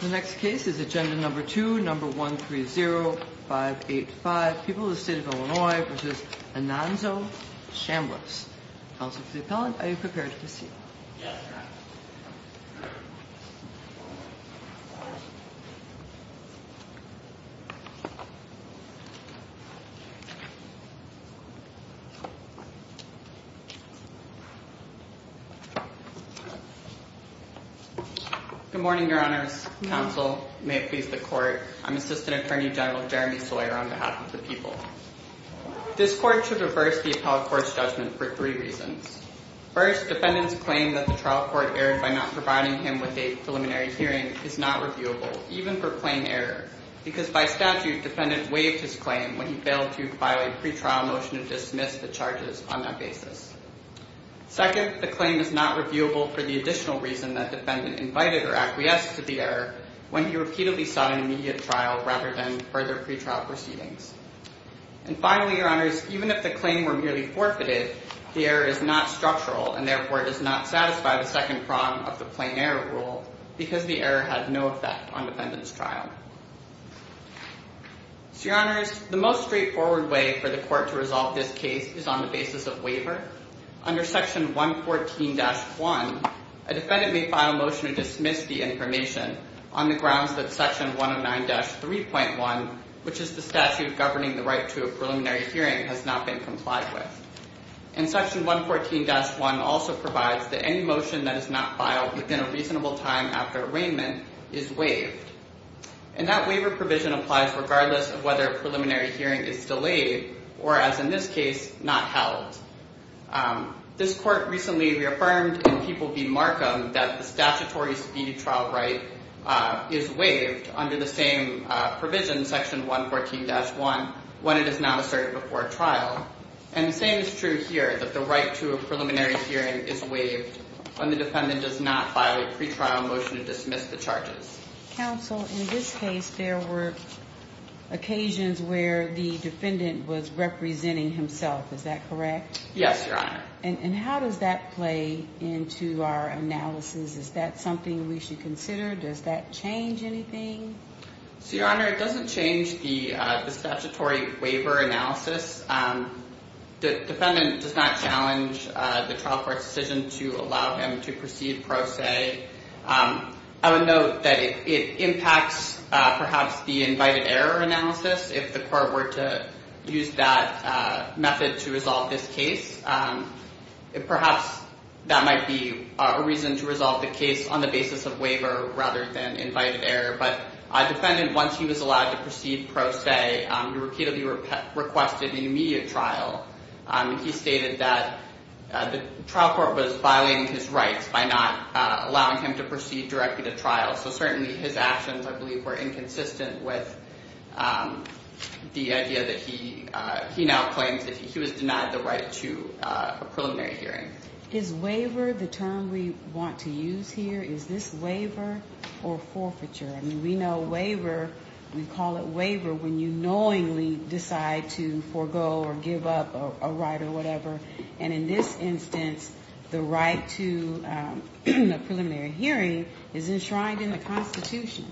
The next case is agenda number 2, number 130585. People of the State of Illinois v. Anonzo Chambliss. Counsel to the appellant, are you prepared to proceed? Yes, ma'am. Good morning, your honors. Counsel, may it please the court, I'm Assistant Attorney General Jeremy Sawyer on behalf of the people. This court should reverse the appellate court's judgment for three reasons. First, defendant's claim that the trial court erred by not providing him with a preliminary hearing is not reviewable, even for plain error, because by statute, defendant waived his claim when he failed to file a pretrial motion to dismiss the charges on that basis. Second, the claim is not reviewable for the additional reason that defendant invited or acquiesced to the error when he repeatedly sought an immediate trial rather than further pretrial proceedings. And finally, your honors, even if the claim were merely forfeited, the error is not structural and therefore does not satisfy the second prong of the plain error rule because the error had no effect on defendant's trial. So your honors, the most straightforward way for the court to resolve this case is on the basis of waiver. Under section 114-1, a defendant may file a motion to dismiss the information on the grounds that section 109-3.1, which is the statute governing the right to a preliminary hearing, has not been complied with. And section 114-1 also provides that any motion that is not filed within a reasonable time after arraignment is waived. And that waiver provision applies regardless of whether a preliminary hearing is delayed or, as in this case, not held. This court recently reaffirmed in People v. Markham that the statutory speed trial right is waived under the same provision, section 114-1, when it is not asserted before trial. And the same is true here, that the right to a preliminary hearing is waived when the defendant does not file a pretrial motion to dismiss the charges. Counsel, in this case, there were occasions where the defendant was representing himself. Is that correct? Yes, your honor. And how does that play into our analysis? Is that something we should consider? Does that change anything? So your honor, it doesn't change the statutory waiver analysis. The defendant does not challenge the trial court's decision to allow him to proceed pro se. I would note that it impacts, perhaps, the invited error analysis. If the court were to use that method to resolve this case, perhaps that might be a reason to resolve the case on the basis of waiver rather than invited error. But our defendant, once he was allowed to proceed pro se, he repeatedly requested an immediate trial. He stated that the trial court was violating his rights by not allowing him to proceed directly to trial. So certainly his actions, I believe, were inconsistent with the idea that he now claims that he was denied the right to a preliminary hearing. Is waiver the term we want to use here? Is this waiver or forfeiture? I mean, we know waiver, we call it waiver when you knowingly decide to forego or give up a right or whatever. And in this instance, the right to a preliminary hearing is enshrined in the Constitution.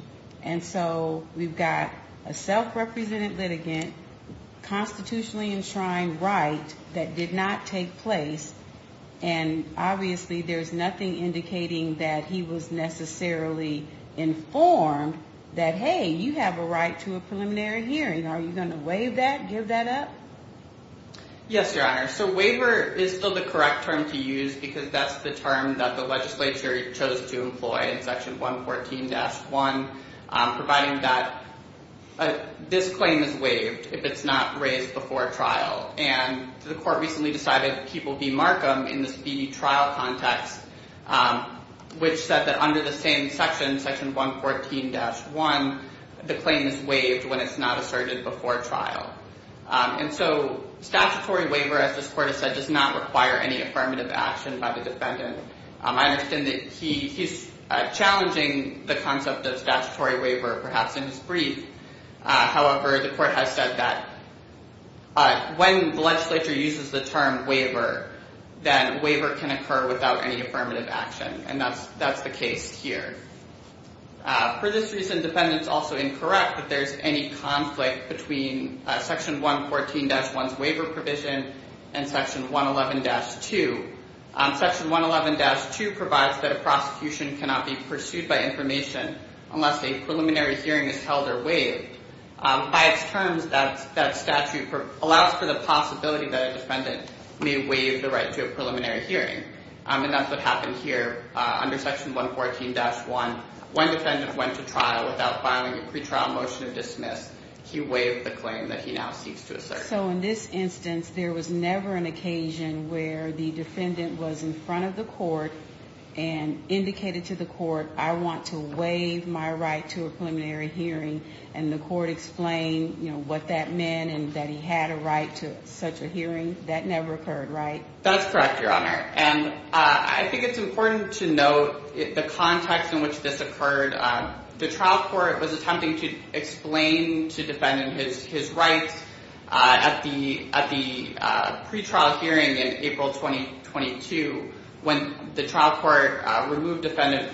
And so we've got a self-represented litigant, constitutionally enshrined right that did not take place. And obviously there's nothing indicating that he was necessarily informed that, hey, you have a right to a preliminary hearing. Are you going to waive that, give that up? Yes, Your Honor. So waiver is still the correct term to use because that's the term that the legislature chose to employ in Section 114-1, providing that this claim is waived if it's not raised before trial. And the court recently decided that he will be markum in the trial context, which said that under the same section, Section 114-1, the claim is waived when it's not asserted before trial. And so statutory waiver, as this court has said, does not require any affirmative action by the defendant. I understand that he's challenging the concept of statutory waiver, perhaps in his brief. However, the court has said that when the legislature uses the term waiver, that waiver can occur without any affirmative action, and that's the case here. For this reason, defendants also incorrect that there's any conflict between Section 114-1's waiver provision and Section 111-2. Section 111-2 provides that a prosecution cannot be pursued by information unless a preliminary hearing is held or waived. By its terms, that statute allows for the possibility that a defendant may waive the right to a preliminary hearing, and that's what happened here under Section 114-1. When a defendant went to trial without filing a pretrial motion of dismiss, he waived the claim that he now seeks to assert. So in this instance, there was never an occasion where the defendant was in front of the court and indicated to the court, I want to waive my right to a preliminary hearing, and the court explained, you know, what that meant and that he had a right to such a hearing. That never occurred, right? That's correct, Your Honor. And I think it's important to note the context in which this occurred. The trial court was attempting to explain to defendant his rights at the pretrial hearing in April 2022. When the trial court removed defendant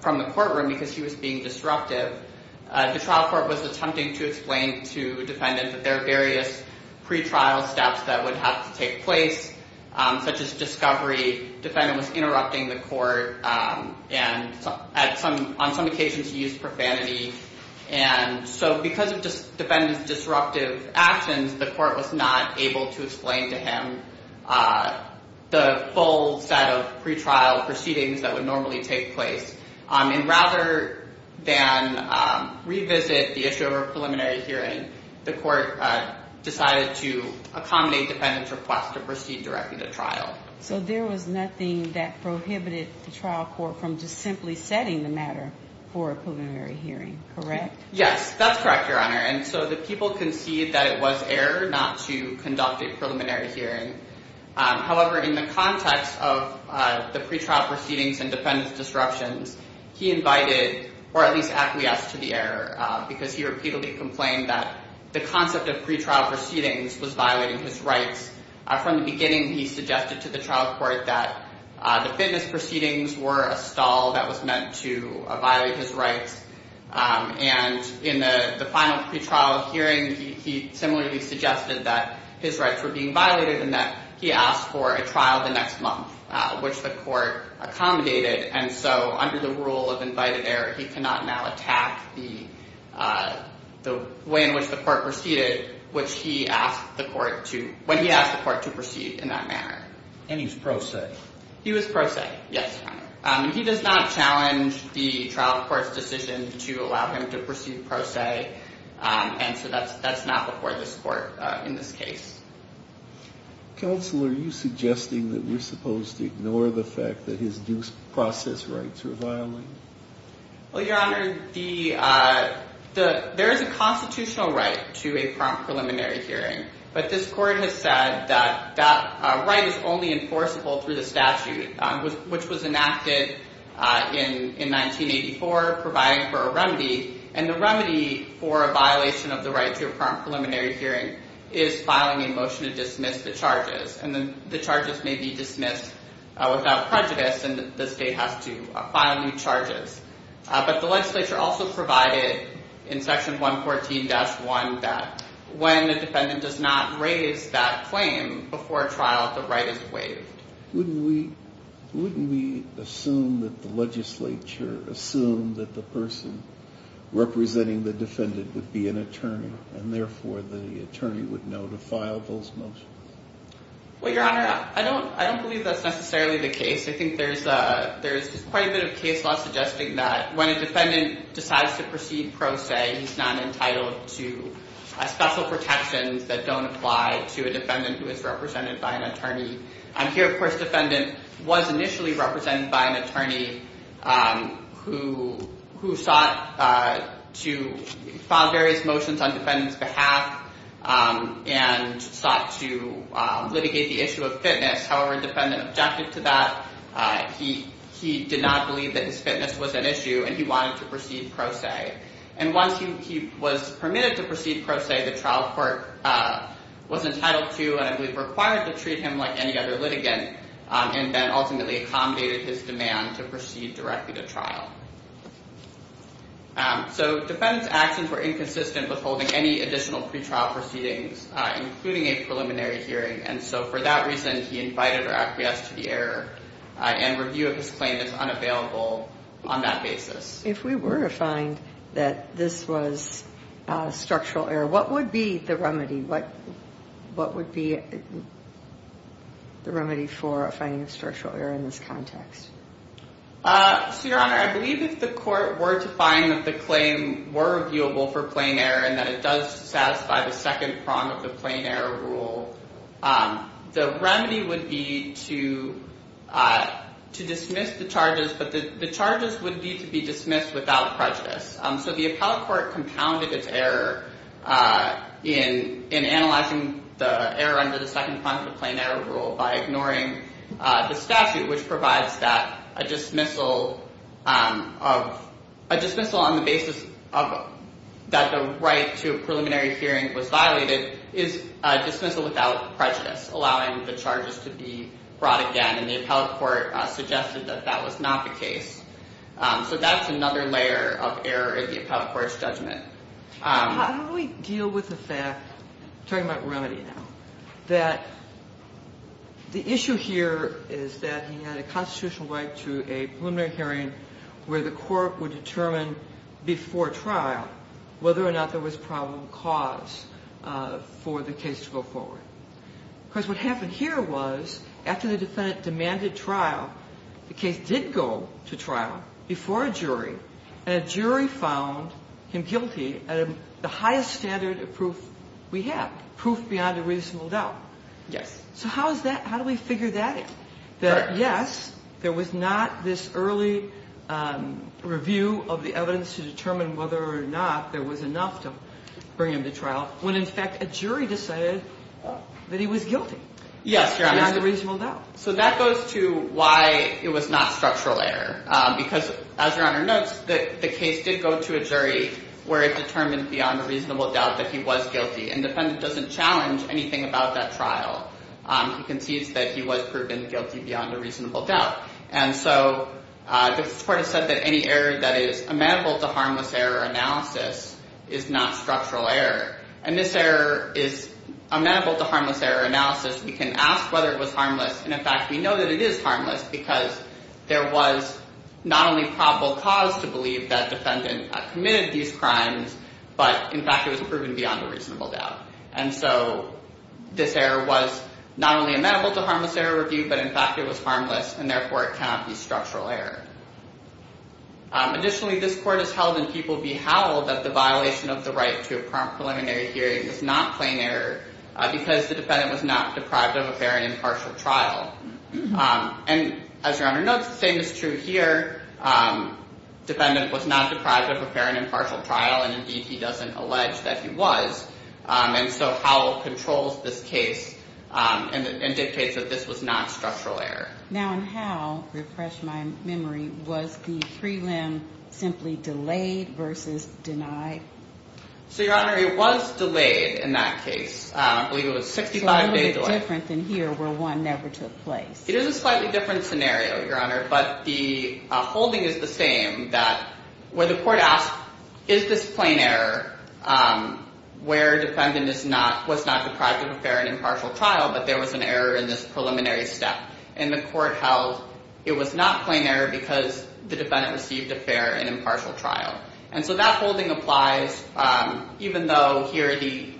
from the courtroom because he was being disruptive, the trial court was attempting to explain to defendant that there are various pretrial steps that would have to take place, such as discovery. Defendant was interrupting the court, and on some occasions he used profanity. And so because of defendant's disruptive actions, the court was not able to explain to him the full set of pretrial proceedings that would normally take place. And rather than revisit the issue of a preliminary hearing, the court decided to accommodate defendant's request to proceed directly to trial. So there was nothing that prohibited the trial court from just simply setting the matter for a preliminary hearing, correct? Yes, that's correct, Your Honor. And so the people concede that it was error not to conduct a preliminary hearing. However, in the context of the pretrial proceedings and defendant's disruptions, he invited, or at least acquiesced to the error, because he repeatedly complained that the concept of pretrial proceedings was violating his rights. From the beginning, he suggested to the trial court that the fitness proceedings were a stall that was meant to violate his rights. And in the final pretrial hearing, he similarly suggested that his rights were being violated and that he asked for a trial the next month, which the court accommodated. And so under the rule of invited error, he cannot now attack the way in which the court proceeded, when he asked the court to proceed in that manner. And he was pro se? He was pro se, yes. He does not challenge the trial court's decision to allow him to proceed pro se, and so that's not before this court in this case. Counsel, are you suggesting that we're supposed to ignore the fact that his due process rights were violated? Well, Your Honor, there is a constitutional right to a prompt preliminary hearing, but this court has said that that right is only enforceable through the statute, which was enacted in 1984 providing for a remedy, and the remedy for a violation of the right to a prompt preliminary hearing is filing a motion to dismiss the charges, and the charges may be dismissed without prejudice, and the state has to file new charges. But the legislature also provided in Section 114-1 that when the defendant does not raise that claim before trial, the right is waived. Wouldn't we assume that the legislature assumed that the person representing the defendant would be an attorney, and therefore the attorney would know to file those motions? Well, Your Honor, I don't believe that's necessarily the case. I think there's quite a bit of case law suggesting that when a defendant decides to proceed pro se, he's not entitled to special protections that don't apply to a defendant who is represented by an attorney. Here, of course, the defendant was initially represented by an attorney who sought to file various motions on the defendant's behalf and sought to litigate the issue of fitness. However, the defendant objected to that. He did not believe that his fitness was an issue, and he wanted to proceed pro se, and once he was permitted to proceed pro se, the trial court was entitled to but I believe required to treat him like any other litigant, and then ultimately accommodated his demand to proceed directly to trial. So the defendant's actions were inconsistent with holding any additional pretrial proceedings, including a preliminary hearing, and so for that reason he invited or acquiesced to the error and review of his claim is unavailable on that basis. If we were to find that this was structural error, what would be the remedy? What would be the remedy for a finding of structural error in this context? So, Your Honor, I believe if the court were to find that the claim were reviewable for plain error and that it does satisfy the second prong of the plain error rule, the remedy would be to dismiss the charges, but the charges would need to be dismissed without prejudice. So the appellate court compounded its error in analyzing the error under the second prong of the plain error rule by ignoring the statute, which provides that a dismissal on the basis that the right to a preliminary hearing was violated is a dismissal without prejudice, allowing the charges to be brought again, and the appellate court suggested that that was not the case. So that's another layer of error in the appellate court's judgment. How do we deal with the fact, talking about remedy now, that the issue here is that he had a constitutional right to a preliminary hearing where the court would determine before trial whether or not there was probable cause for the case to go forward? Because what happened here was after the defendant demanded trial, the case did go to trial before a jury, and a jury found him guilty at the highest standard of proof we have, proof beyond a reasonable doubt. Yes. So how is that? How do we figure that out? That, yes, there was not this early review of the evidence to determine whether or not there was enough to bring him to trial, when, in fact, a jury decided that he was guilty. Yes, Your Honor. Beyond a reasonable doubt. So that goes to why it was not structural error, because, as Your Honor notes, the case did go to a jury where it determined beyond a reasonable doubt that he was guilty, and the defendant doesn't challenge anything about that trial. He concedes that he was proven guilty beyond a reasonable doubt. And so the court has said that any error that is amenable to harmless error analysis is not structural error, and this error is amenable to harmless error analysis. We can ask whether it was harmless, and, in fact, we know that it is harmless, because there was not only probable cause to believe that the defendant committed these crimes, but, in fact, it was proven beyond a reasonable doubt. And so this error was not only amenable to harmless error review, but, in fact, it was harmless, and, therefore, it cannot be structural error. Additionally, this court has held and people beheld that the violation of the right to a preliminary hearing is not plain error, because the defendant was not deprived of a fair and impartial trial. And, as Your Honor notes, the same is true here. Defendant was not deprived of a fair and impartial trial, and, indeed, he doesn't allege that he was. And so Howell controls this case and dictates that this was not structural error. Now, in Howell, refresh my memory, was the prelim simply delayed versus denied? So, Your Honor, it was delayed in that case. I believe it was 65 days delayed. So a little bit different than here, where one never took place. It is a slightly different scenario, Your Honor, but the holding is the same, where the court asks, is this plain error, where defendant was not deprived of a fair and impartial trial, but there was an error in this preliminary step. And the court held it was not plain error because the defendant received a fair and impartial trial. And so that holding applies, even though here the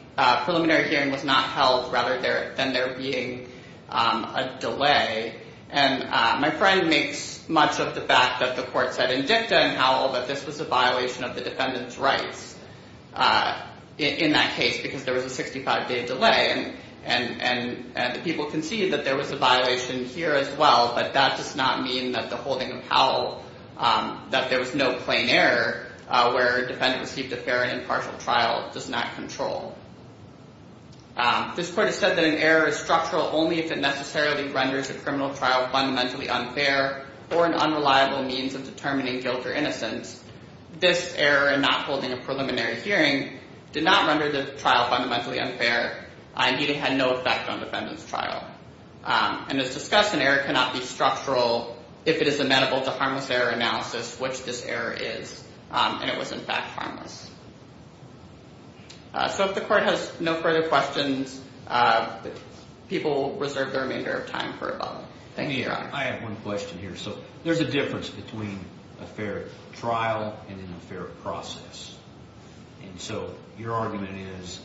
preliminary hearing was not held, rather than there being a delay. And my friend makes much of the fact that the court said in dicta in Howell that this was a violation of the defendant's rights in that case, because there was a 65-day delay. And the people concede that there was a violation here as well, but that does not mean that the holding of Howell, that there was no plain error, where a defendant received a fair and impartial trial, does not control. This court has said that an error is structural only if it necessarily renders a criminal trial fundamentally unfair or an unreliable means of determining guilt or innocence. This error in not holding a preliminary hearing did not render the trial fundamentally unfair, and it had no effect on the defendant's trial. And as discussed, an error cannot be structural if it is amenable to harmless error analysis, which this error is, and it was in fact harmless. So if the court has no further questions, people reserve the remainder of time for a vote. Thank you, Your Honor. I have one question here. So there's a difference between a fair trial and an unfair process. And so your argument is,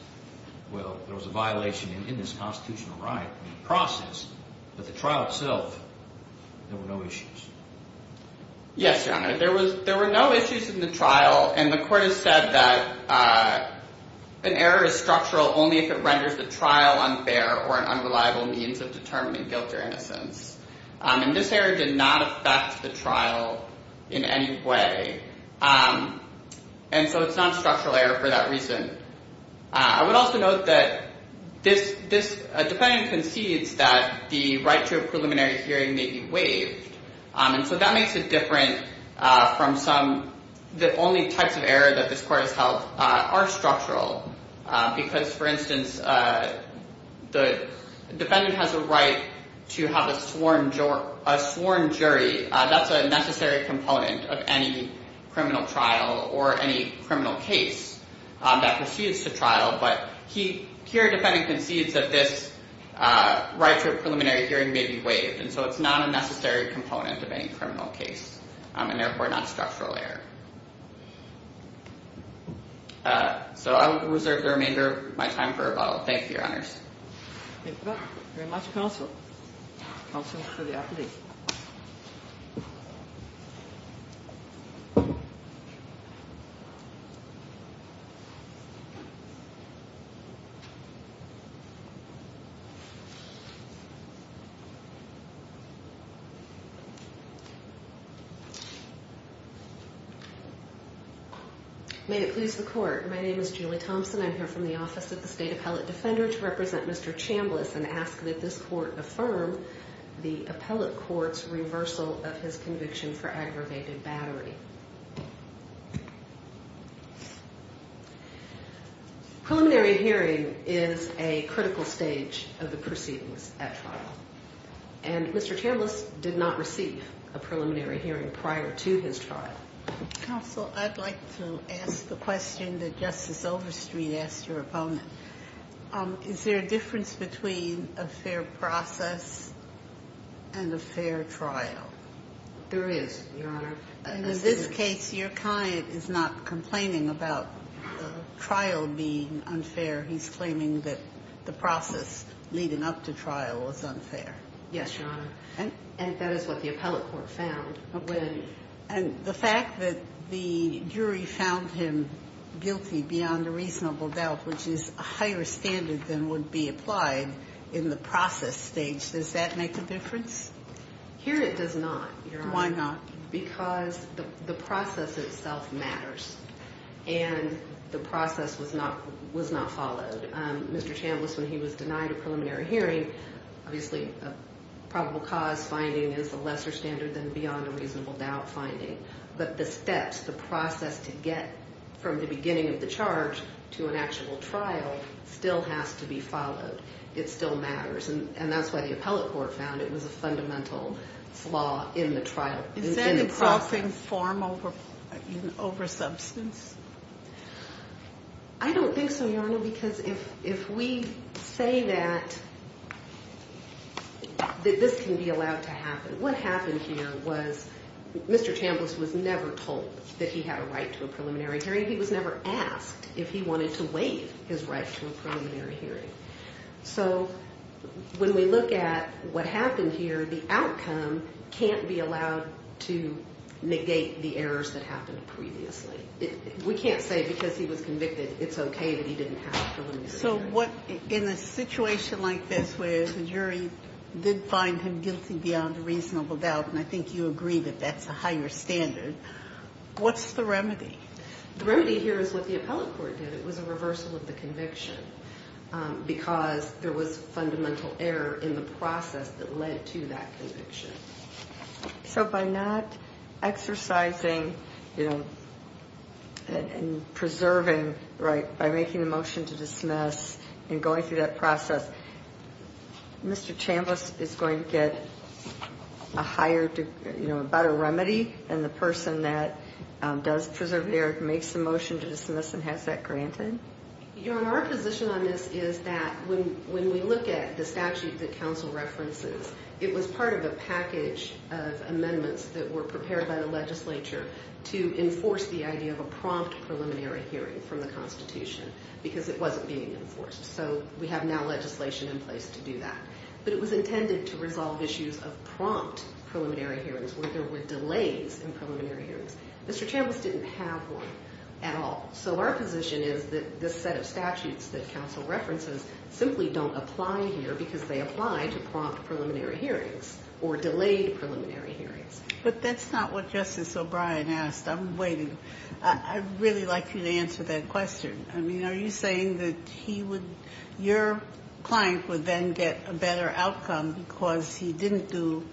well, there was a violation in this constitutional right. In the process, but the trial itself, there were no issues. Yes, Your Honor. There were no issues in the trial, and the court has said that an error is structural only if it renders the trial unfair or an unreliable means of determining guilt or innocence. And this error did not affect the trial in any way. And so it's not a structural error for that reason. I would also note that this defendant concedes that the right to a preliminary hearing may be waived, and so that makes it different from some. The only types of error that this court has held are structural, because, for instance, the defendant has a right to have a sworn jury. That's a necessary component of any criminal trial or any criminal case that proceeds to trial. But here, the defendant concedes that this right to a preliminary hearing may be waived, and so it's not a necessary component of any criminal case, and therefore not a structural error. So I will reserve the remainder of my time for rebuttal. Thank you, Your Honors. Thank you very much, Counsel. Counsel for the appellee. May it please the Court. My name is Julie Thompson. I'm here from the Office of the State Appellate Defender to represent Mr. Chambliss and ask that this Court affirm the appellate court's reversal of his conviction for aggravated battery. Preliminary hearing is a critical stage of the proceedings at trial, and Mr. Chambliss did not receive a preliminary hearing prior to his trial. Counsel, I'd like to ask the question that Justice Overstreet asked her opponent. Is there a difference between a fair process and a fair trial? There is, Your Honor. And in this case, your client is not complaining about trial being unfair. He's claiming that the process leading up to trial was unfair. Yes, Your Honor. And that is what the appellate court found. And the fact that the jury found him guilty beyond a reasonable doubt, which is a higher standard than would be applied in the process stage, does that make a difference? Here it does not, Your Honor. Why not? Because the process itself matters, and the process was not followed. Mr. Chambliss, when he was denied a preliminary hearing, obviously a probable cause finding is a lesser standard than beyond a reasonable doubt finding. But the steps, the process to get from the beginning of the charge to an actual trial still has to be followed. It still matters. And that's why the appellate court found it was a fundamental flaw in the trial, in the process. Is that insulting form over substance? I don't think so, Your Honor, because if we say that this can be allowed to happen, what happened here was Mr. Chambliss was never told that he had a right to a preliminary hearing. He was never asked if he wanted to waive his right to a preliminary hearing. So when we look at what happened here, the outcome can't be allowed to negate the errors that happened previously. We can't say because he was convicted it's okay that he didn't have a preliminary hearing. So in a situation like this where the jury did find him guilty beyond a reasonable doubt, and I think you agree that that's a higher standard, what's the remedy? The remedy here is what the appellate court did. It was a reversal of the conviction because there was fundamental error in the process that led to that conviction. So by not exercising and preserving by making a motion to dismiss and going through that process, Mr. Chambliss is going to get a better remedy than the person that does preserve the error, makes the motion to dismiss, and has that granted? Your Honor, our position on this is that when we look at the statute that counsel references, it was part of a package of amendments that were prepared by the legislature to enforce the idea of a prompt preliminary hearing from the Constitution because it wasn't being enforced. So we have now legislation in place to do that. But it was intended to resolve issues of prompt preliminary hearings where there were delays in preliminary hearings. Mr. Chambliss didn't have one at all. So our position is that this set of statutes that counsel references simply don't apply here because they apply to prompt preliminary hearings or delayed preliminary hearings. But that's not what Justice O'Brien asked. I'm waiting. I'd really like you to answer that question. I mean, are you saying that he would – your client would then get a better outcome because he didn't do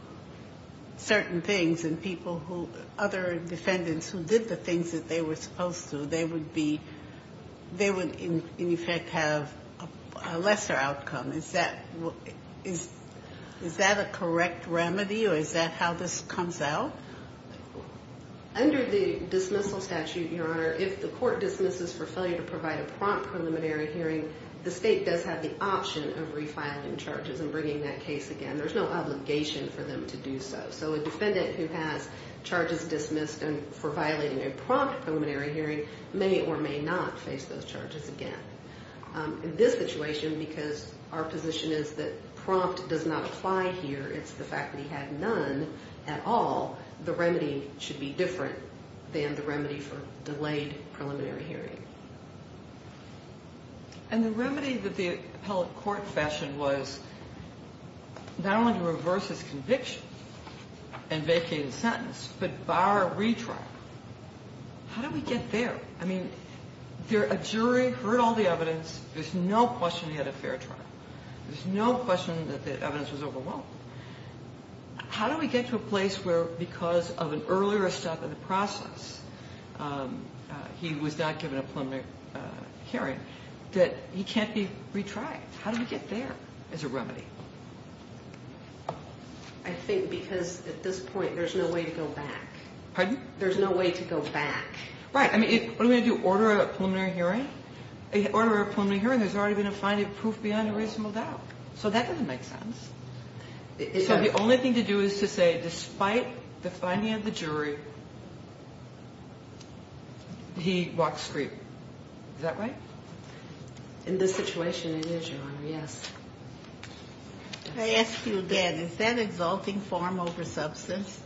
certain things and people who – other defendants who did the things that they were supposed to, they would be – they would, in effect, have a lesser outcome? Is that a correct remedy or is that how this comes out? Under the dismissal statute, Your Honor, if the court dismisses for failure to provide a prompt preliminary hearing, the state does have the option of refiling charges and bringing that case again. There's no obligation for them to do so. So a defendant who has charges dismissed for violating a prompt preliminary hearing may or may not face those charges again. In this situation, because our position is that prompt does not apply here, it's the fact that he had none at all, the remedy should be different than the remedy for delayed preliminary hearing. And the remedy that the appellate court fashioned was not only to reverse his conviction and vacate his sentence, but bar a retrial. How did we get there? I mean, a jury heard all the evidence. There's no question he had a fair trial. There's no question that the evidence was overwhelmed. How do we get to a place where, because of an earlier step in the process, he was not given a preliminary hearing, that he can't be retried? How do we get there as a remedy? I think because at this point there's no way to go back. Pardon? There's no way to go back. Right. I mean, what are we going to do, order a preliminary hearing? Order a preliminary hearing, there's already been a finding of proof beyond a reasonable doubt. So that doesn't make sense. So the only thing to do is to say, despite the finding of the jury, he walked straight. Is that right? In this situation, it is, Your Honor, yes. I ask you again, is that exalting form over substance?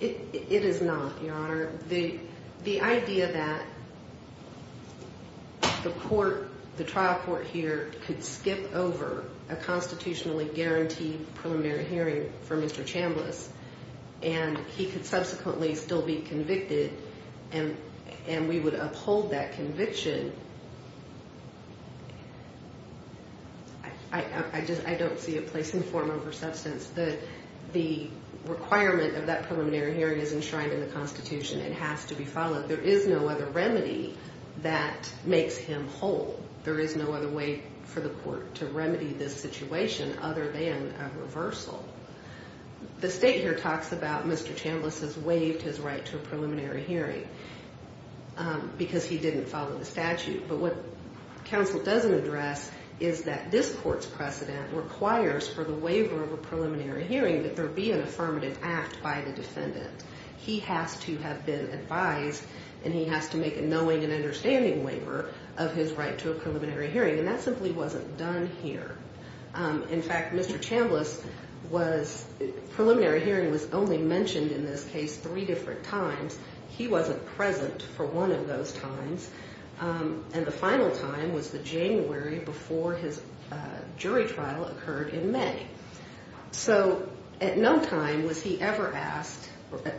It is not, Your Honor. The idea that the trial court here could skip over a constitutionally guaranteed preliminary hearing for Mr. Chambliss and he could subsequently still be convicted and we would uphold that conviction, I don't see a place in form over substance. The requirement of that preliminary hearing is enshrined in the constitution. It has to be followed. There is no other remedy that makes him whole. There is no other way for the court to remedy this situation other than a reversal. The state here talks about Mr. Chambliss has waived his right to a preliminary hearing because he didn't follow the statute. But what counsel doesn't address is that this court's precedent requires for the waiver of a preliminary hearing that there be an affirmative act by the defendant. He has to have been advised and he has to make a knowing and understanding waiver of his right to a preliminary hearing. And that simply wasn't done here. In fact, Mr. Chambliss was preliminary hearing was only mentioned in this case three different times. He wasn't present for one of those times. And the final time was the January before his jury trial occurred in May. So at no time was he ever asked,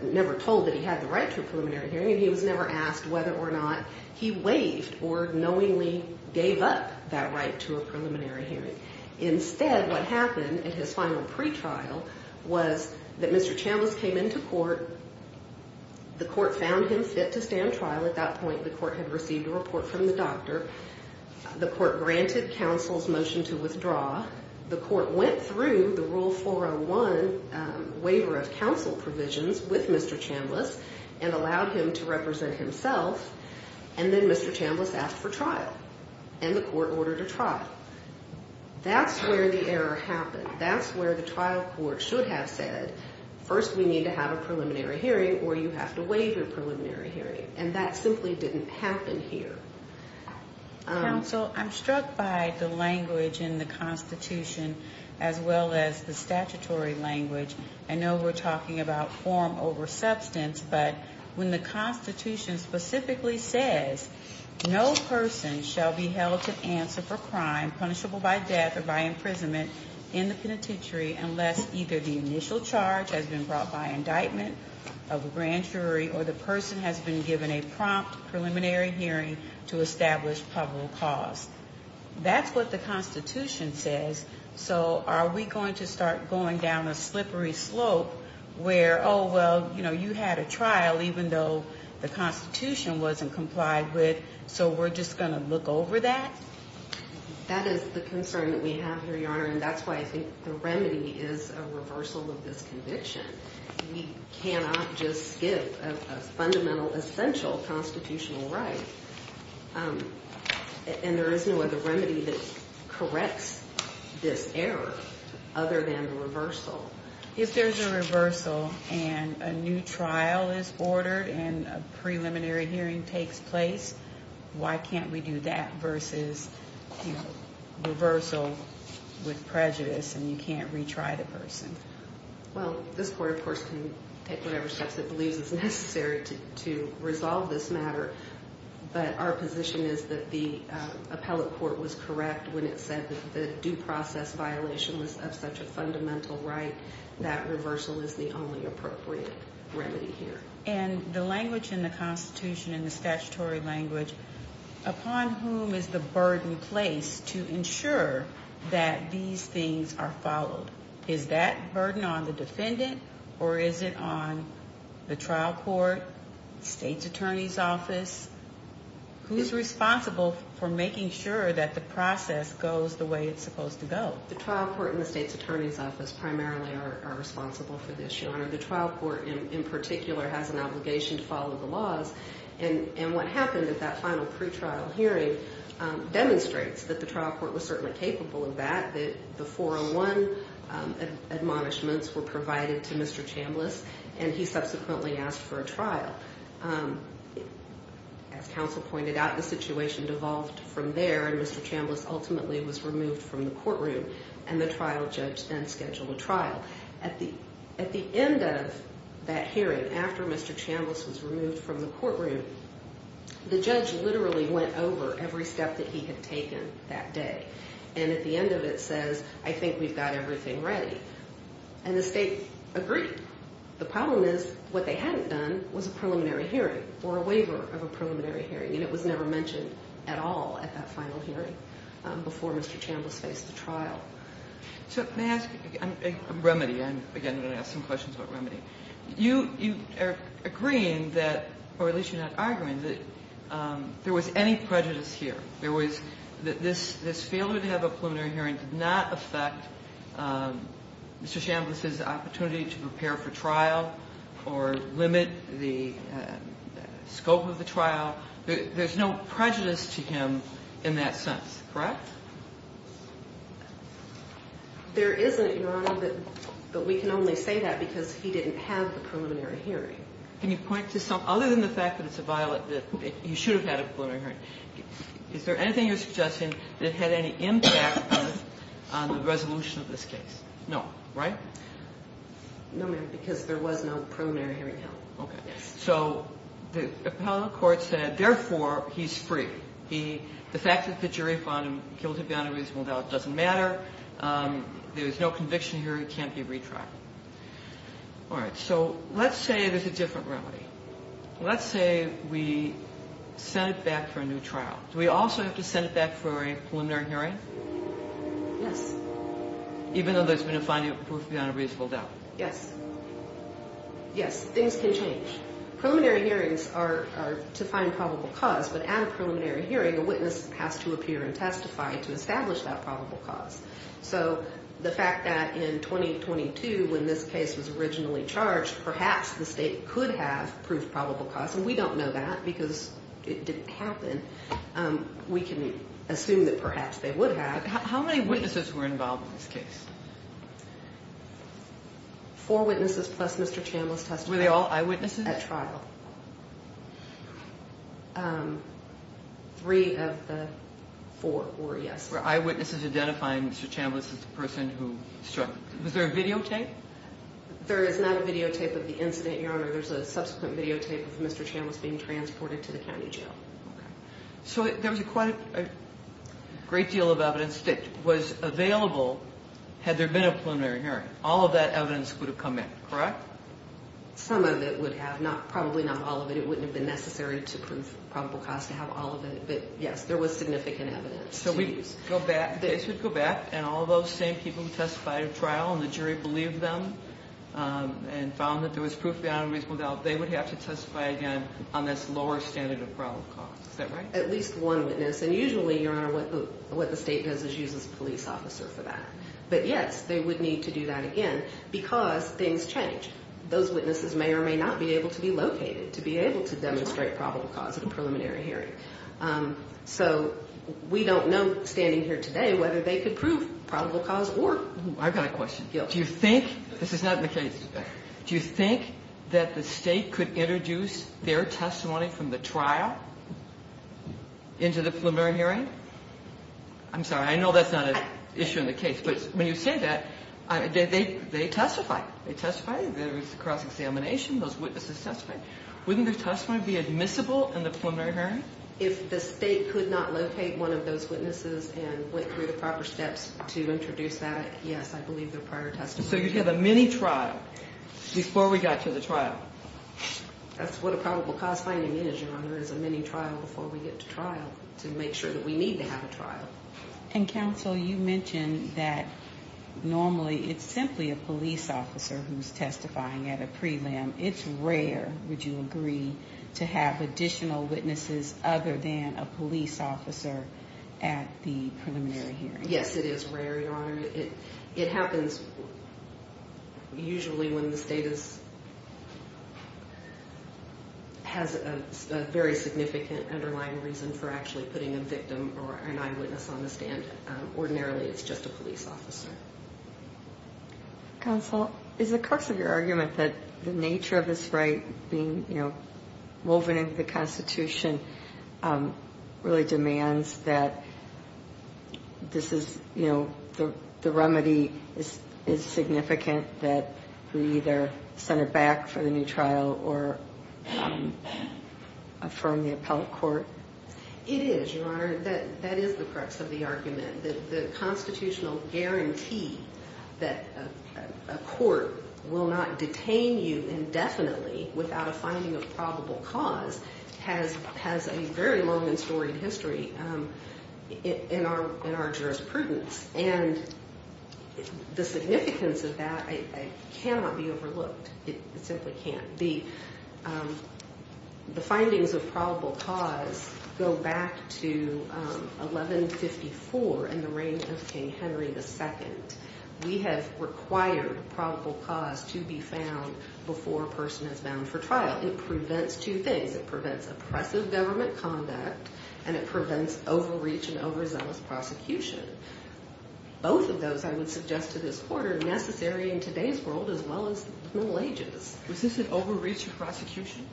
never told that he had the right to a preliminary hearing. He was never asked whether or not he waived or knowingly gave up that right to a preliminary hearing. Instead, what happened in his final pretrial was that Mr. Chambliss came into court. The court found him fit to stand trial. At that point, the court had received a report from the doctor. The court granted counsel's motion to withdraw. The court went through the Rule 401 waiver of counsel provisions with Mr. Chambliss and allowed him to represent himself. And then Mr. Chambliss asked for trial. And the court ordered a trial. That's where the error happened. That's where the trial court should have said, first we need to have a preliminary hearing or you have to waive your preliminary hearing. And that simply didn't happen here. Counsel, I'm struck by the language in the Constitution as well as the statutory language. I know we're talking about form over substance. But when the Constitution specifically says, no person shall be held to answer for crime punishable by death or by imprisonment in the penitentiary unless either the initial charge has been brought by indictment of a grand jury or the person has been given a prompt preliminary hearing to establish public cause. That's what the Constitution says. So are we going to start going down a slippery slope where, oh, well, you know, you had a trial even though the Constitution wasn't complied with, so we're just going to look over that? That is the concern that we have here, Your Honor, and that's why I think the remedy is a reversal of this conviction. We cannot just skip a fundamental essential constitutional right. And there is no other remedy that corrects this error other than the reversal. If there's a reversal and a new trial is ordered and a preliminary hearing takes place, why can't we do that versus, you know, reversal with prejudice and you can't retry the person? Well, this court, of course, can take whatever steps it believes is necessary to resolve this matter, but our position is that the appellate court was correct when it said that the due process violation was of such a fundamental right that reversal is the only appropriate remedy here. And the language in the Constitution and the statutory language, upon whom is the burden placed to ensure that these things are followed? Is that burden on the defendant or is it on the trial court, state's attorney's office? Who's responsible for making sure that the process goes the way it's supposed to go? The trial court and the state's attorney's office primarily are responsible for this, Your Honor. The trial court in particular has an obligation to follow the laws, and what happened at that final pretrial hearing demonstrates that the trial court was certainly capable of that, that the 401 admonishments were provided to Mr. Chambliss, and he subsequently asked for a trial. As counsel pointed out, the situation devolved from there, and Mr. Chambliss ultimately was removed from the courtroom, and the trial judge then scheduled a trial. At the end of that hearing, after Mr. Chambliss was removed from the courtroom, the judge literally went over every step that he had taken that day, and at the end of it says, I think we've got everything ready, and the state agreed. The problem is what they hadn't done was a preliminary hearing or a waiver of a preliminary hearing, and it was never mentioned at all at that final hearing before Mr. Chambliss faced the trial. So may I ask a remedy? Again, I'm going to ask some questions about remedy. You are agreeing that, or at least you're not arguing that there was any prejudice here. There was that this failure to have a preliminary hearing did not affect Mr. Chambliss's opportunity to prepare for trial or limit the scope of the trial. There's no prejudice to him in that sense, correct? There isn't, Your Honor, but we can only say that because he didn't have a preliminary hearing. Can you point to something? Other than the fact that it's a violent, that he should have had a preliminary hearing, is there anything you're suggesting that had any impact on the resolution of this case? No, right? No, ma'am, because there was no preliminary hearing held. Okay. So the appellate court said, therefore, he's free. The fact that the jury found him guilty beyond a reasonable doubt doesn't matter. There is no conviction here. He can't be retried. All right, so let's say there's a different remedy. Let's say we send it back for a new trial. Do we also have to send it back for a preliminary hearing? Yes. Even though there's been a finding of proof beyond a reasonable doubt? Yes. Yes, things can change. Preliminary hearings are to find probable cause, but at a preliminary hearing, a witness has to appear and testify to establish that probable cause. So the fact that in 2022, when this case was originally charged, perhaps the state could have proved probable cause, and we don't know that because it didn't happen. We can assume that perhaps they would have. How many witnesses were involved in this case? Four witnesses plus Mr. Chambliss testified. Were they all eyewitnesses? At trial. Three of the four were, yes. Were eyewitnesses identifying Mr. Chambliss as the person who struck? Was there a videotape? There is not a videotape of the incident, Your Honor. There's a subsequent videotape of Mr. Chambliss being transported to the county jail. Okay. So there was quite a great deal of evidence that was available had there been a preliminary hearing. All of that evidence would have come in, correct? Some of it would have, probably not all of it. It wouldn't have been necessary to prove probable cause to have all of it, but, yes, there was significant evidence to use. So we'd go back, the case would go back, and all of those same people who testified at trial, and the jury believed them and found that there was proof beyond reasonable doubt, they would have to testify again on this lower standard of probable cause. Is that right? At least one witness, and usually, Your Honor, what the state does is uses a police officer for that. But, yes, they would need to do that again because things change. Those witnesses may or may not be able to be located to be able to demonstrate probable cause at a preliminary hearing. So we don't know, standing here today, whether they could prove probable cause or not. I've got a question. Do you think, this is not in the case, do you think that the state could introduce their testimony from the trial into the preliminary hearing? I'm sorry, I know that's not an issue in the case, but when you say that, they testify. They testify, there is a cross-examination, those witnesses testify. Wouldn't their testimony be admissible in the preliminary hearing? If the state could not locate one of those witnesses and went through the proper steps to introduce that, yes, I believe their prior testimony. So you'd have a mini-trial before we got to the trial. That's what a probable cause finding is, Your Honor, is a mini-trial before we get to trial to make sure that we need to have a trial. And Counsel, you mentioned that normally it's simply a police officer who's testifying at a prelim. It's rare, would you agree, to have additional witnesses other than a police officer at the preliminary hearing? Yes, it is rare, Your Honor. It happens usually when the state has a very significant underlying reason for actually putting a victim or an eyewitness on the stand. Ordinarily, it's just a police officer. Counsel, is the crux of your argument that the nature of this right being, you know, woven into the Constitution really demands that this is, you know, the remedy is significant that we either send it back for the new trial or affirm the appellate court? It is, Your Honor. That is the crux of the argument, that the constitutional guarantee that a court will not detain you indefinitely without a finding of probable cause has a very long and storied history in our jurisprudence. And the significance of that cannot be overlooked. It simply can't. The findings of probable cause go back to 1154 in the reign of King Henry II. We have required probable cause to be found before a person is bound for trial. It prevents two things. It prevents oppressive government conduct, and it prevents overreach and overzealous prosecution. Both of those, I would suggest to this court, are necessary in today's world as well as the Middle Ages. Was this an overreach in prosecution?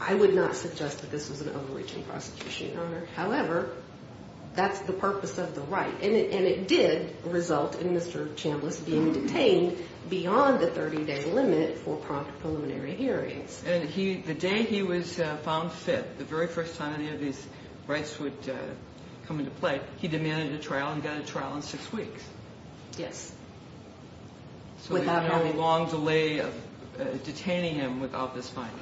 I would not suggest that this was an overreach in prosecution, Your Honor. However, that's the purpose of the right, and it did result in Mr. Chambliss being detained beyond the 30-day limit for prompt preliminary hearings. And the day he was found fit, the very first time any of these rights would come into play, he demanded a trial and got a trial in six weeks. Yes. So he had a long delay of detaining him without this finding.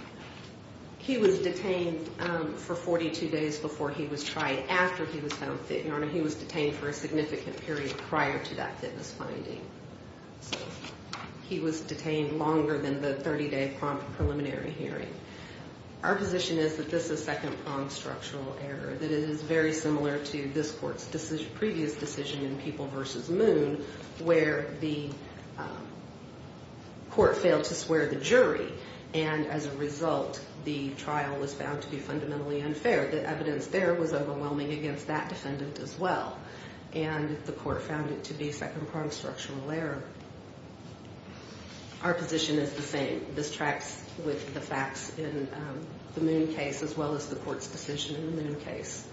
He was detained for 42 days before he was tried. After he was found fit, Your Honor, he was detained for a significant period prior to that fitness finding. So he was detained longer than the 30-day prompt preliminary hearing. Our position is that this is second-pronged structural error, that it is very similar to this court's previous decision in People v. Moon where the court failed to swear the jury, and as a result the trial was found to be fundamentally unfair. The evidence there was overwhelming against that defendant as well, and the court found it to be second-pronged structural error. Our position is the same. This tracks with the facts in the Moon case as well as the court's decision in the Moon case.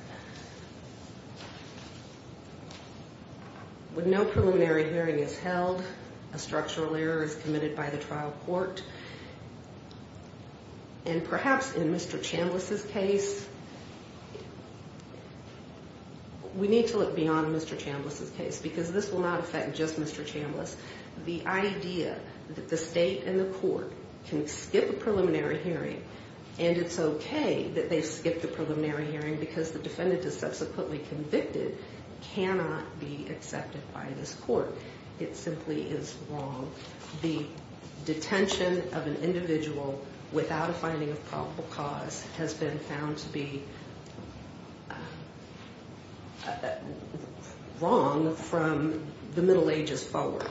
When no preliminary hearing is held, a structural error is committed by the trial court. And perhaps in Mr. Chambliss' case, we need to look beyond Mr. Chambliss' case because this will not affect just Mr. Chambliss. The idea that the state and the court can skip a preliminary hearing and it's okay that they've skipped a preliminary hearing because the defendant is subsequently convicted cannot be accepted by this court. It simply is wrong. The detention of an individual without a finding of probable cause has been found to be wrong from the Middle Ages forward.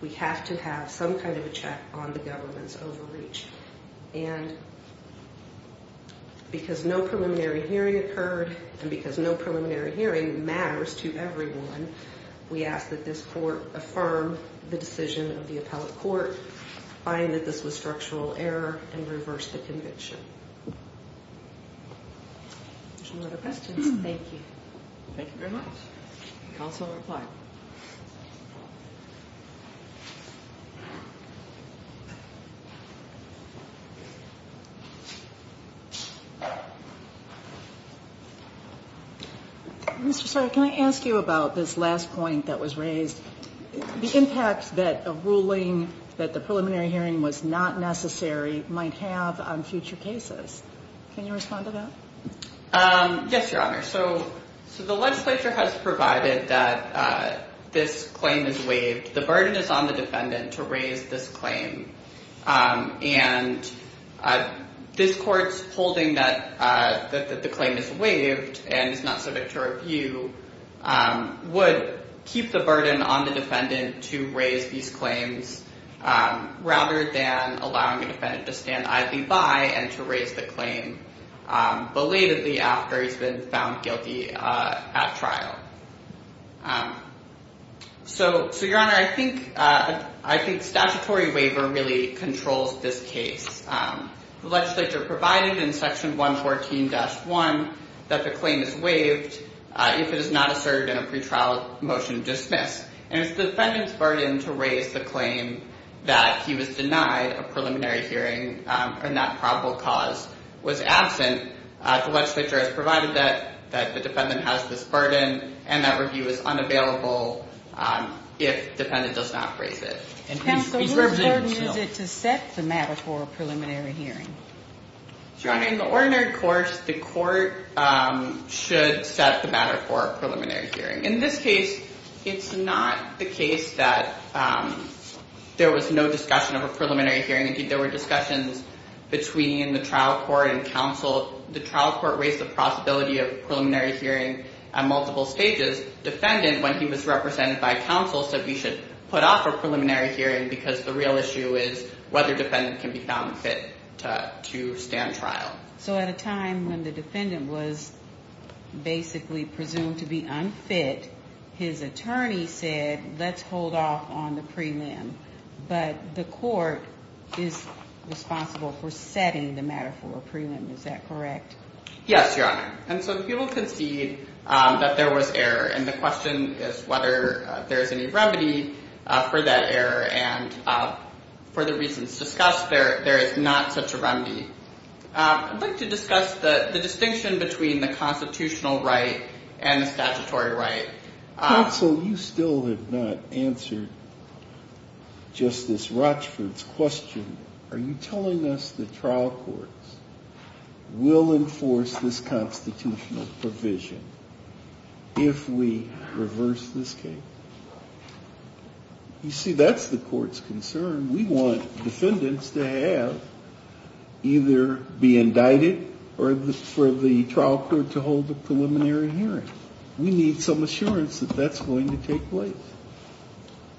We have to have some kind of a check on the government's overreach. And because no preliminary hearing occurred and because no preliminary hearing matters to everyone, we ask that this court affirm the decision of the appellate court, find that this was structural error, and reverse the conviction. If there's no other questions, thank you. Thank you very much. Counsel will reply. Mr. Sawyer, can I ask you about this last point that was raised? The impact that a ruling that the preliminary hearing was not necessary might have on future cases. Can you respond to that? Yes, Your Honor. So the legislature has provided that this claim is waived. The burden is on the defendant to raise this claim. And this court's holding that the claim is waived and is not subject to review would keep the burden on the defendant to raise these claims rather than allowing the defendant to stand idly by and to raise the claim belatedly after he's been found guilty at trial. So, Your Honor, I think statutory waiver really controls this case. The legislature provided in Section 114-1 that the claim is waived. If it is not asserted in a pretrial motion, dismiss. And it's the defendant's burden to raise the claim that he was denied a preliminary hearing and that probable cause was absent. The legislature has provided that the defendant has this burden and that review is unavailable if the defendant does not raise it. Counsel, what burden is it to set the matter for a preliminary hearing? Your Honor, in the ordinary course, the court should set the matter for a preliminary hearing. In this case, it's not the case that there was no discussion of a preliminary hearing. Indeed, there were discussions between the trial court and counsel. The trial court raised the possibility of a preliminary hearing at multiple stages. Defendant, when he was represented by counsel, said we should put off a preliminary hearing because the real issue is whether defendant can be found fit to stand trial. So at a time when the defendant was basically presumed to be unfit, his attorney said let's hold off on the prelim. But the court is responsible for setting the matter for a prelim. Is that correct? Yes, Your Honor. And so the people concede that there was error. And the question is whether there is any remedy for that error. And for the reasons discussed, there is not such a remedy. I'd like to discuss the distinction between the constitutional right and the statutory right. Counsel, you still have not answered Justice Rochford's question. Are you telling us the trial courts will enforce this constitutional provision if we reverse this case? You see, that's the court's concern. We want defendants to have either be indicted or for the trial court to hold the preliminary hearing. We need some assurance that that's going to take place.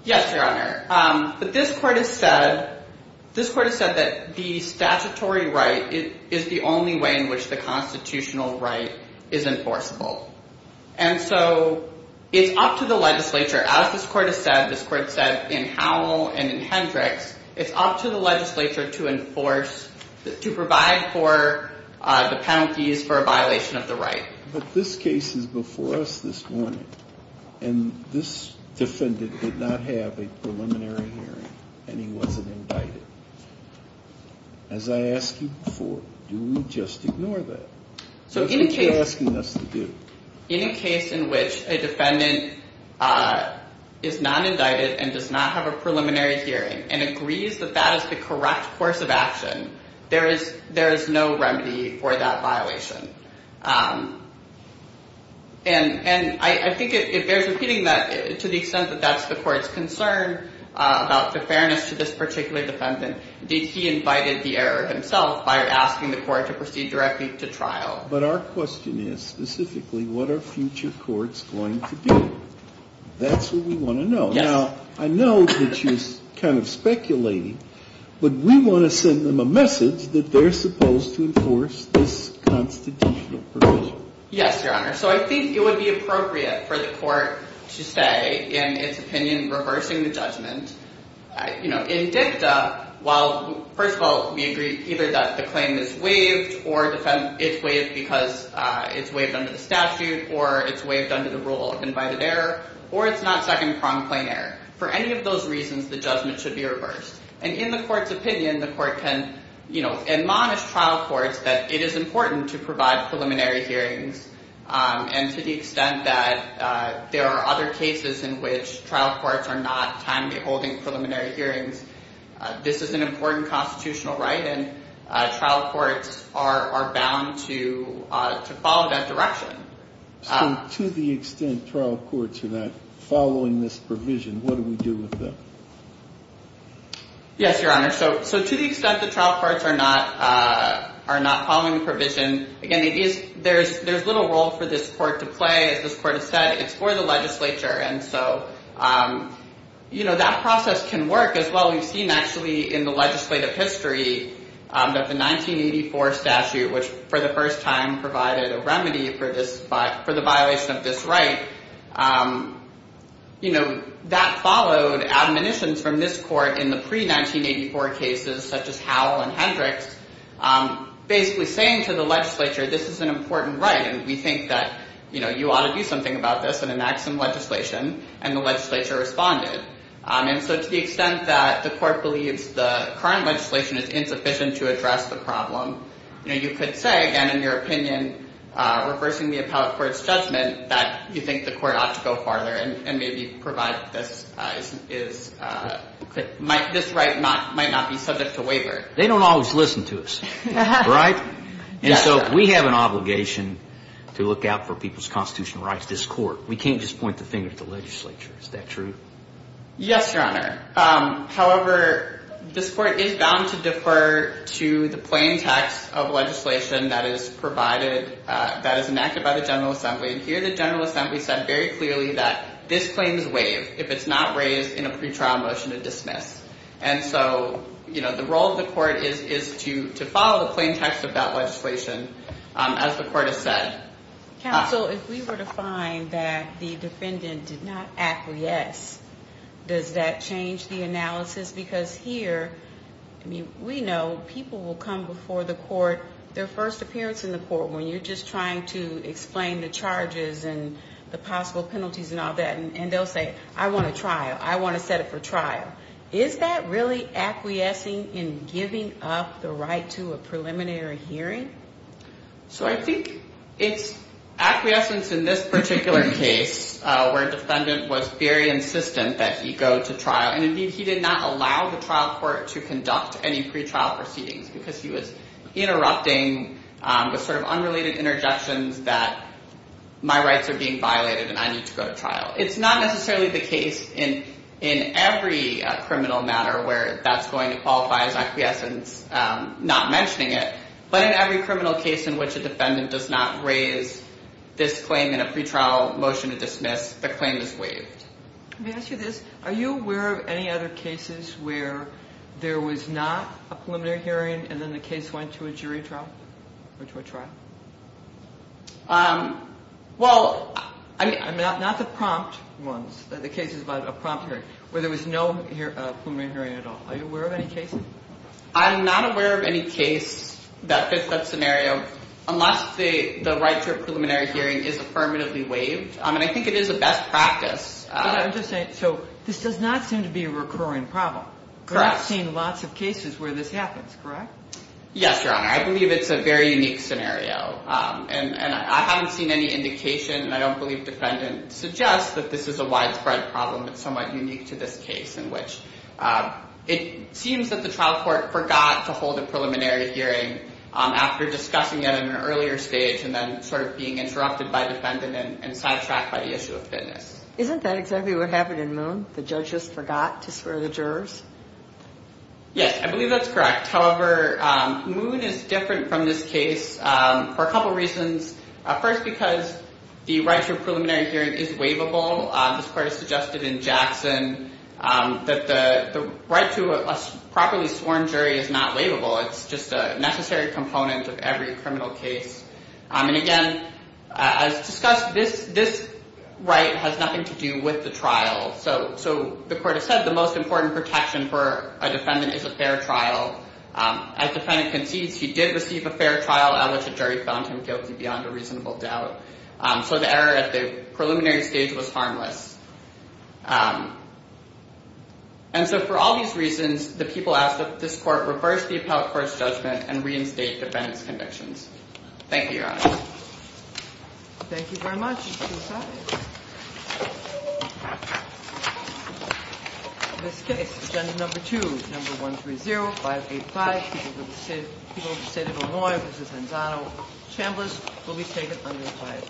Yes, Your Honor. But this court has said that the statutory right is the only way in which the constitutional right is enforceable. And so it's up to the legislature, as this court has said, this court said in Howell and in Hendricks, it's up to the legislature to enforce, to provide for the penalties for a violation of the right. But this case is before us this morning. And this defendant did not have a preliminary hearing, and he wasn't indicted. As I asked you before, do we just ignore that? That's what you're asking us to do. In a case in which a defendant is not indicted and does not have a preliminary hearing and agrees that that is the correct course of action, there is no remedy for that violation. And I think it bears repeating that to the extent that that's the court's concern about the fairness to this particular defendant, that he invited the error himself by asking the court to proceed directly to trial. But our question is specifically, what are future courts going to do? That's what we want to know. Yes. Now, I know that you're kind of speculating, but we want to send them a message that they're supposed to enforce this constitutional provision. Yes, Your Honor. So I think it would be appropriate for the court to say, in its opinion, reversing the judgment. In dicta, first of all, we agree either that the claim is waived or it's waived because it's waived under the statute or it's waived under the rule of invited error, or it's not second-pronged claim error. For any of those reasons, the judgment should be reversed. And in the court's opinion, the court can admonish trial courts that it is important to provide preliminary hearings and to the extent that there are other cases in which trial courts are not timely holding preliminary hearings, this is an important constitutional right, and trial courts are bound to follow that direction. So to the extent trial courts are not following this provision, what do we do with them? Yes, Your Honor. So to the extent that trial courts are not following the provision, again, there's little role for this court to play. As this court has said, it's for the legislature, and so that process can work as well. We've seen actually in the legislative history that the 1984 statute, which for the first time provided a remedy for the violation of this right, that followed admonitions from this court in the pre-1984 cases, such as Howell and Hendricks, basically saying to the legislature, this is an important right, and we think that you ought to do something about this and enact some legislation, and the legislature responded. And so to the extent that the court believes the current legislation is insufficient to address the problem, you could say, again, in your opinion, reversing the appellate court's judgment, that you think the court ought to go farther and maybe provide this right might not be subject to waiver. They don't always listen to us, right? And so we have an obligation to look out for people's constitutional rights, this court. We can't just point the finger at the legislature. Is that true? Yes, Your Honor. However, this court is bound to defer to the plain text of legislation that is provided, that is enacted by the General Assembly, and here the General Assembly said very clearly that this claim is waived if it's not raised in a pretrial motion to dismiss. And so, you know, the role of the court is to follow the plain text of that legislation, as the court has said. Counsel, if we were to find that the defendant did not act yes, does that change the analysis? Because here, I mean, we know people will come before the court, their first appearance in the court, when you're just trying to explain the charges and the possible penalties and all that, and they'll say, I want a trial. I want to set it for trial. Is that really acquiescing in giving up the right to a preliminary hearing? So I think it's acquiescence in this particular case where a defendant was very insistent that he go to trial, and, indeed, he did not allow the trial court to conduct any pretrial proceedings because he was interrupting with sort of unrelated interjections that my rights are being violated and I need to go to trial. It's not necessarily the case in every criminal matter where that's going to qualify as acquiescence, not mentioning it, but in every criminal case in which a defendant does not raise this claim in a pretrial motion to dismiss, the claim is waived. Let me ask you this. Are you aware of any other cases where there was not a preliminary hearing and then the case went to a jury trial or to a trial? Well, not the prompt ones, the cases about a prompt hearing, where there was no preliminary hearing at all. Are you aware of any cases? I'm not aware of any case that fits that scenario unless the right to a preliminary hearing is affirmatively waived, and I think it is a best practice. I'm just saying, so this does not seem to be a recurring problem. Correct. I've seen lots of cases where this happens, correct? Yes, Your Honor. I believe it's a very unique scenario, and I haven't seen any indication, and I don't believe defendant suggests that this is a widespread problem. It's somewhat unique to this case in which it seems that the trial court forgot to hold a preliminary hearing after discussing it in an earlier stage and then sort of being interrupted by defendant and sidetracked by the issue of fitness. Isn't that exactly what happened in Moon? The judge just forgot to swear the jurors? Yes, I believe that's correct. However, Moon is different from this case for a couple reasons. First, because the right to a preliminary hearing is waivable. This court has suggested in Jackson that the right to a properly sworn jury is not waivable. It's just a necessary component of every criminal case. And again, as discussed, this right has nothing to do with the trial. So the court has said the most important protection for a defendant is a fair trial. As defendant concedes, he did receive a fair trial, at which a jury found him guilty beyond a reasonable doubt. So the error at the preliminary stage was harmless. And so for all these reasons, the people asked that this court reverse the appellate court's judgment and reinstate defendant's convictions. Thank you, Your Honor. Thank you very much. You may be seated. In this case, agenda number two, number 130585, people of the state of Illinois versus Hensano, Chambliss will be taken under a five.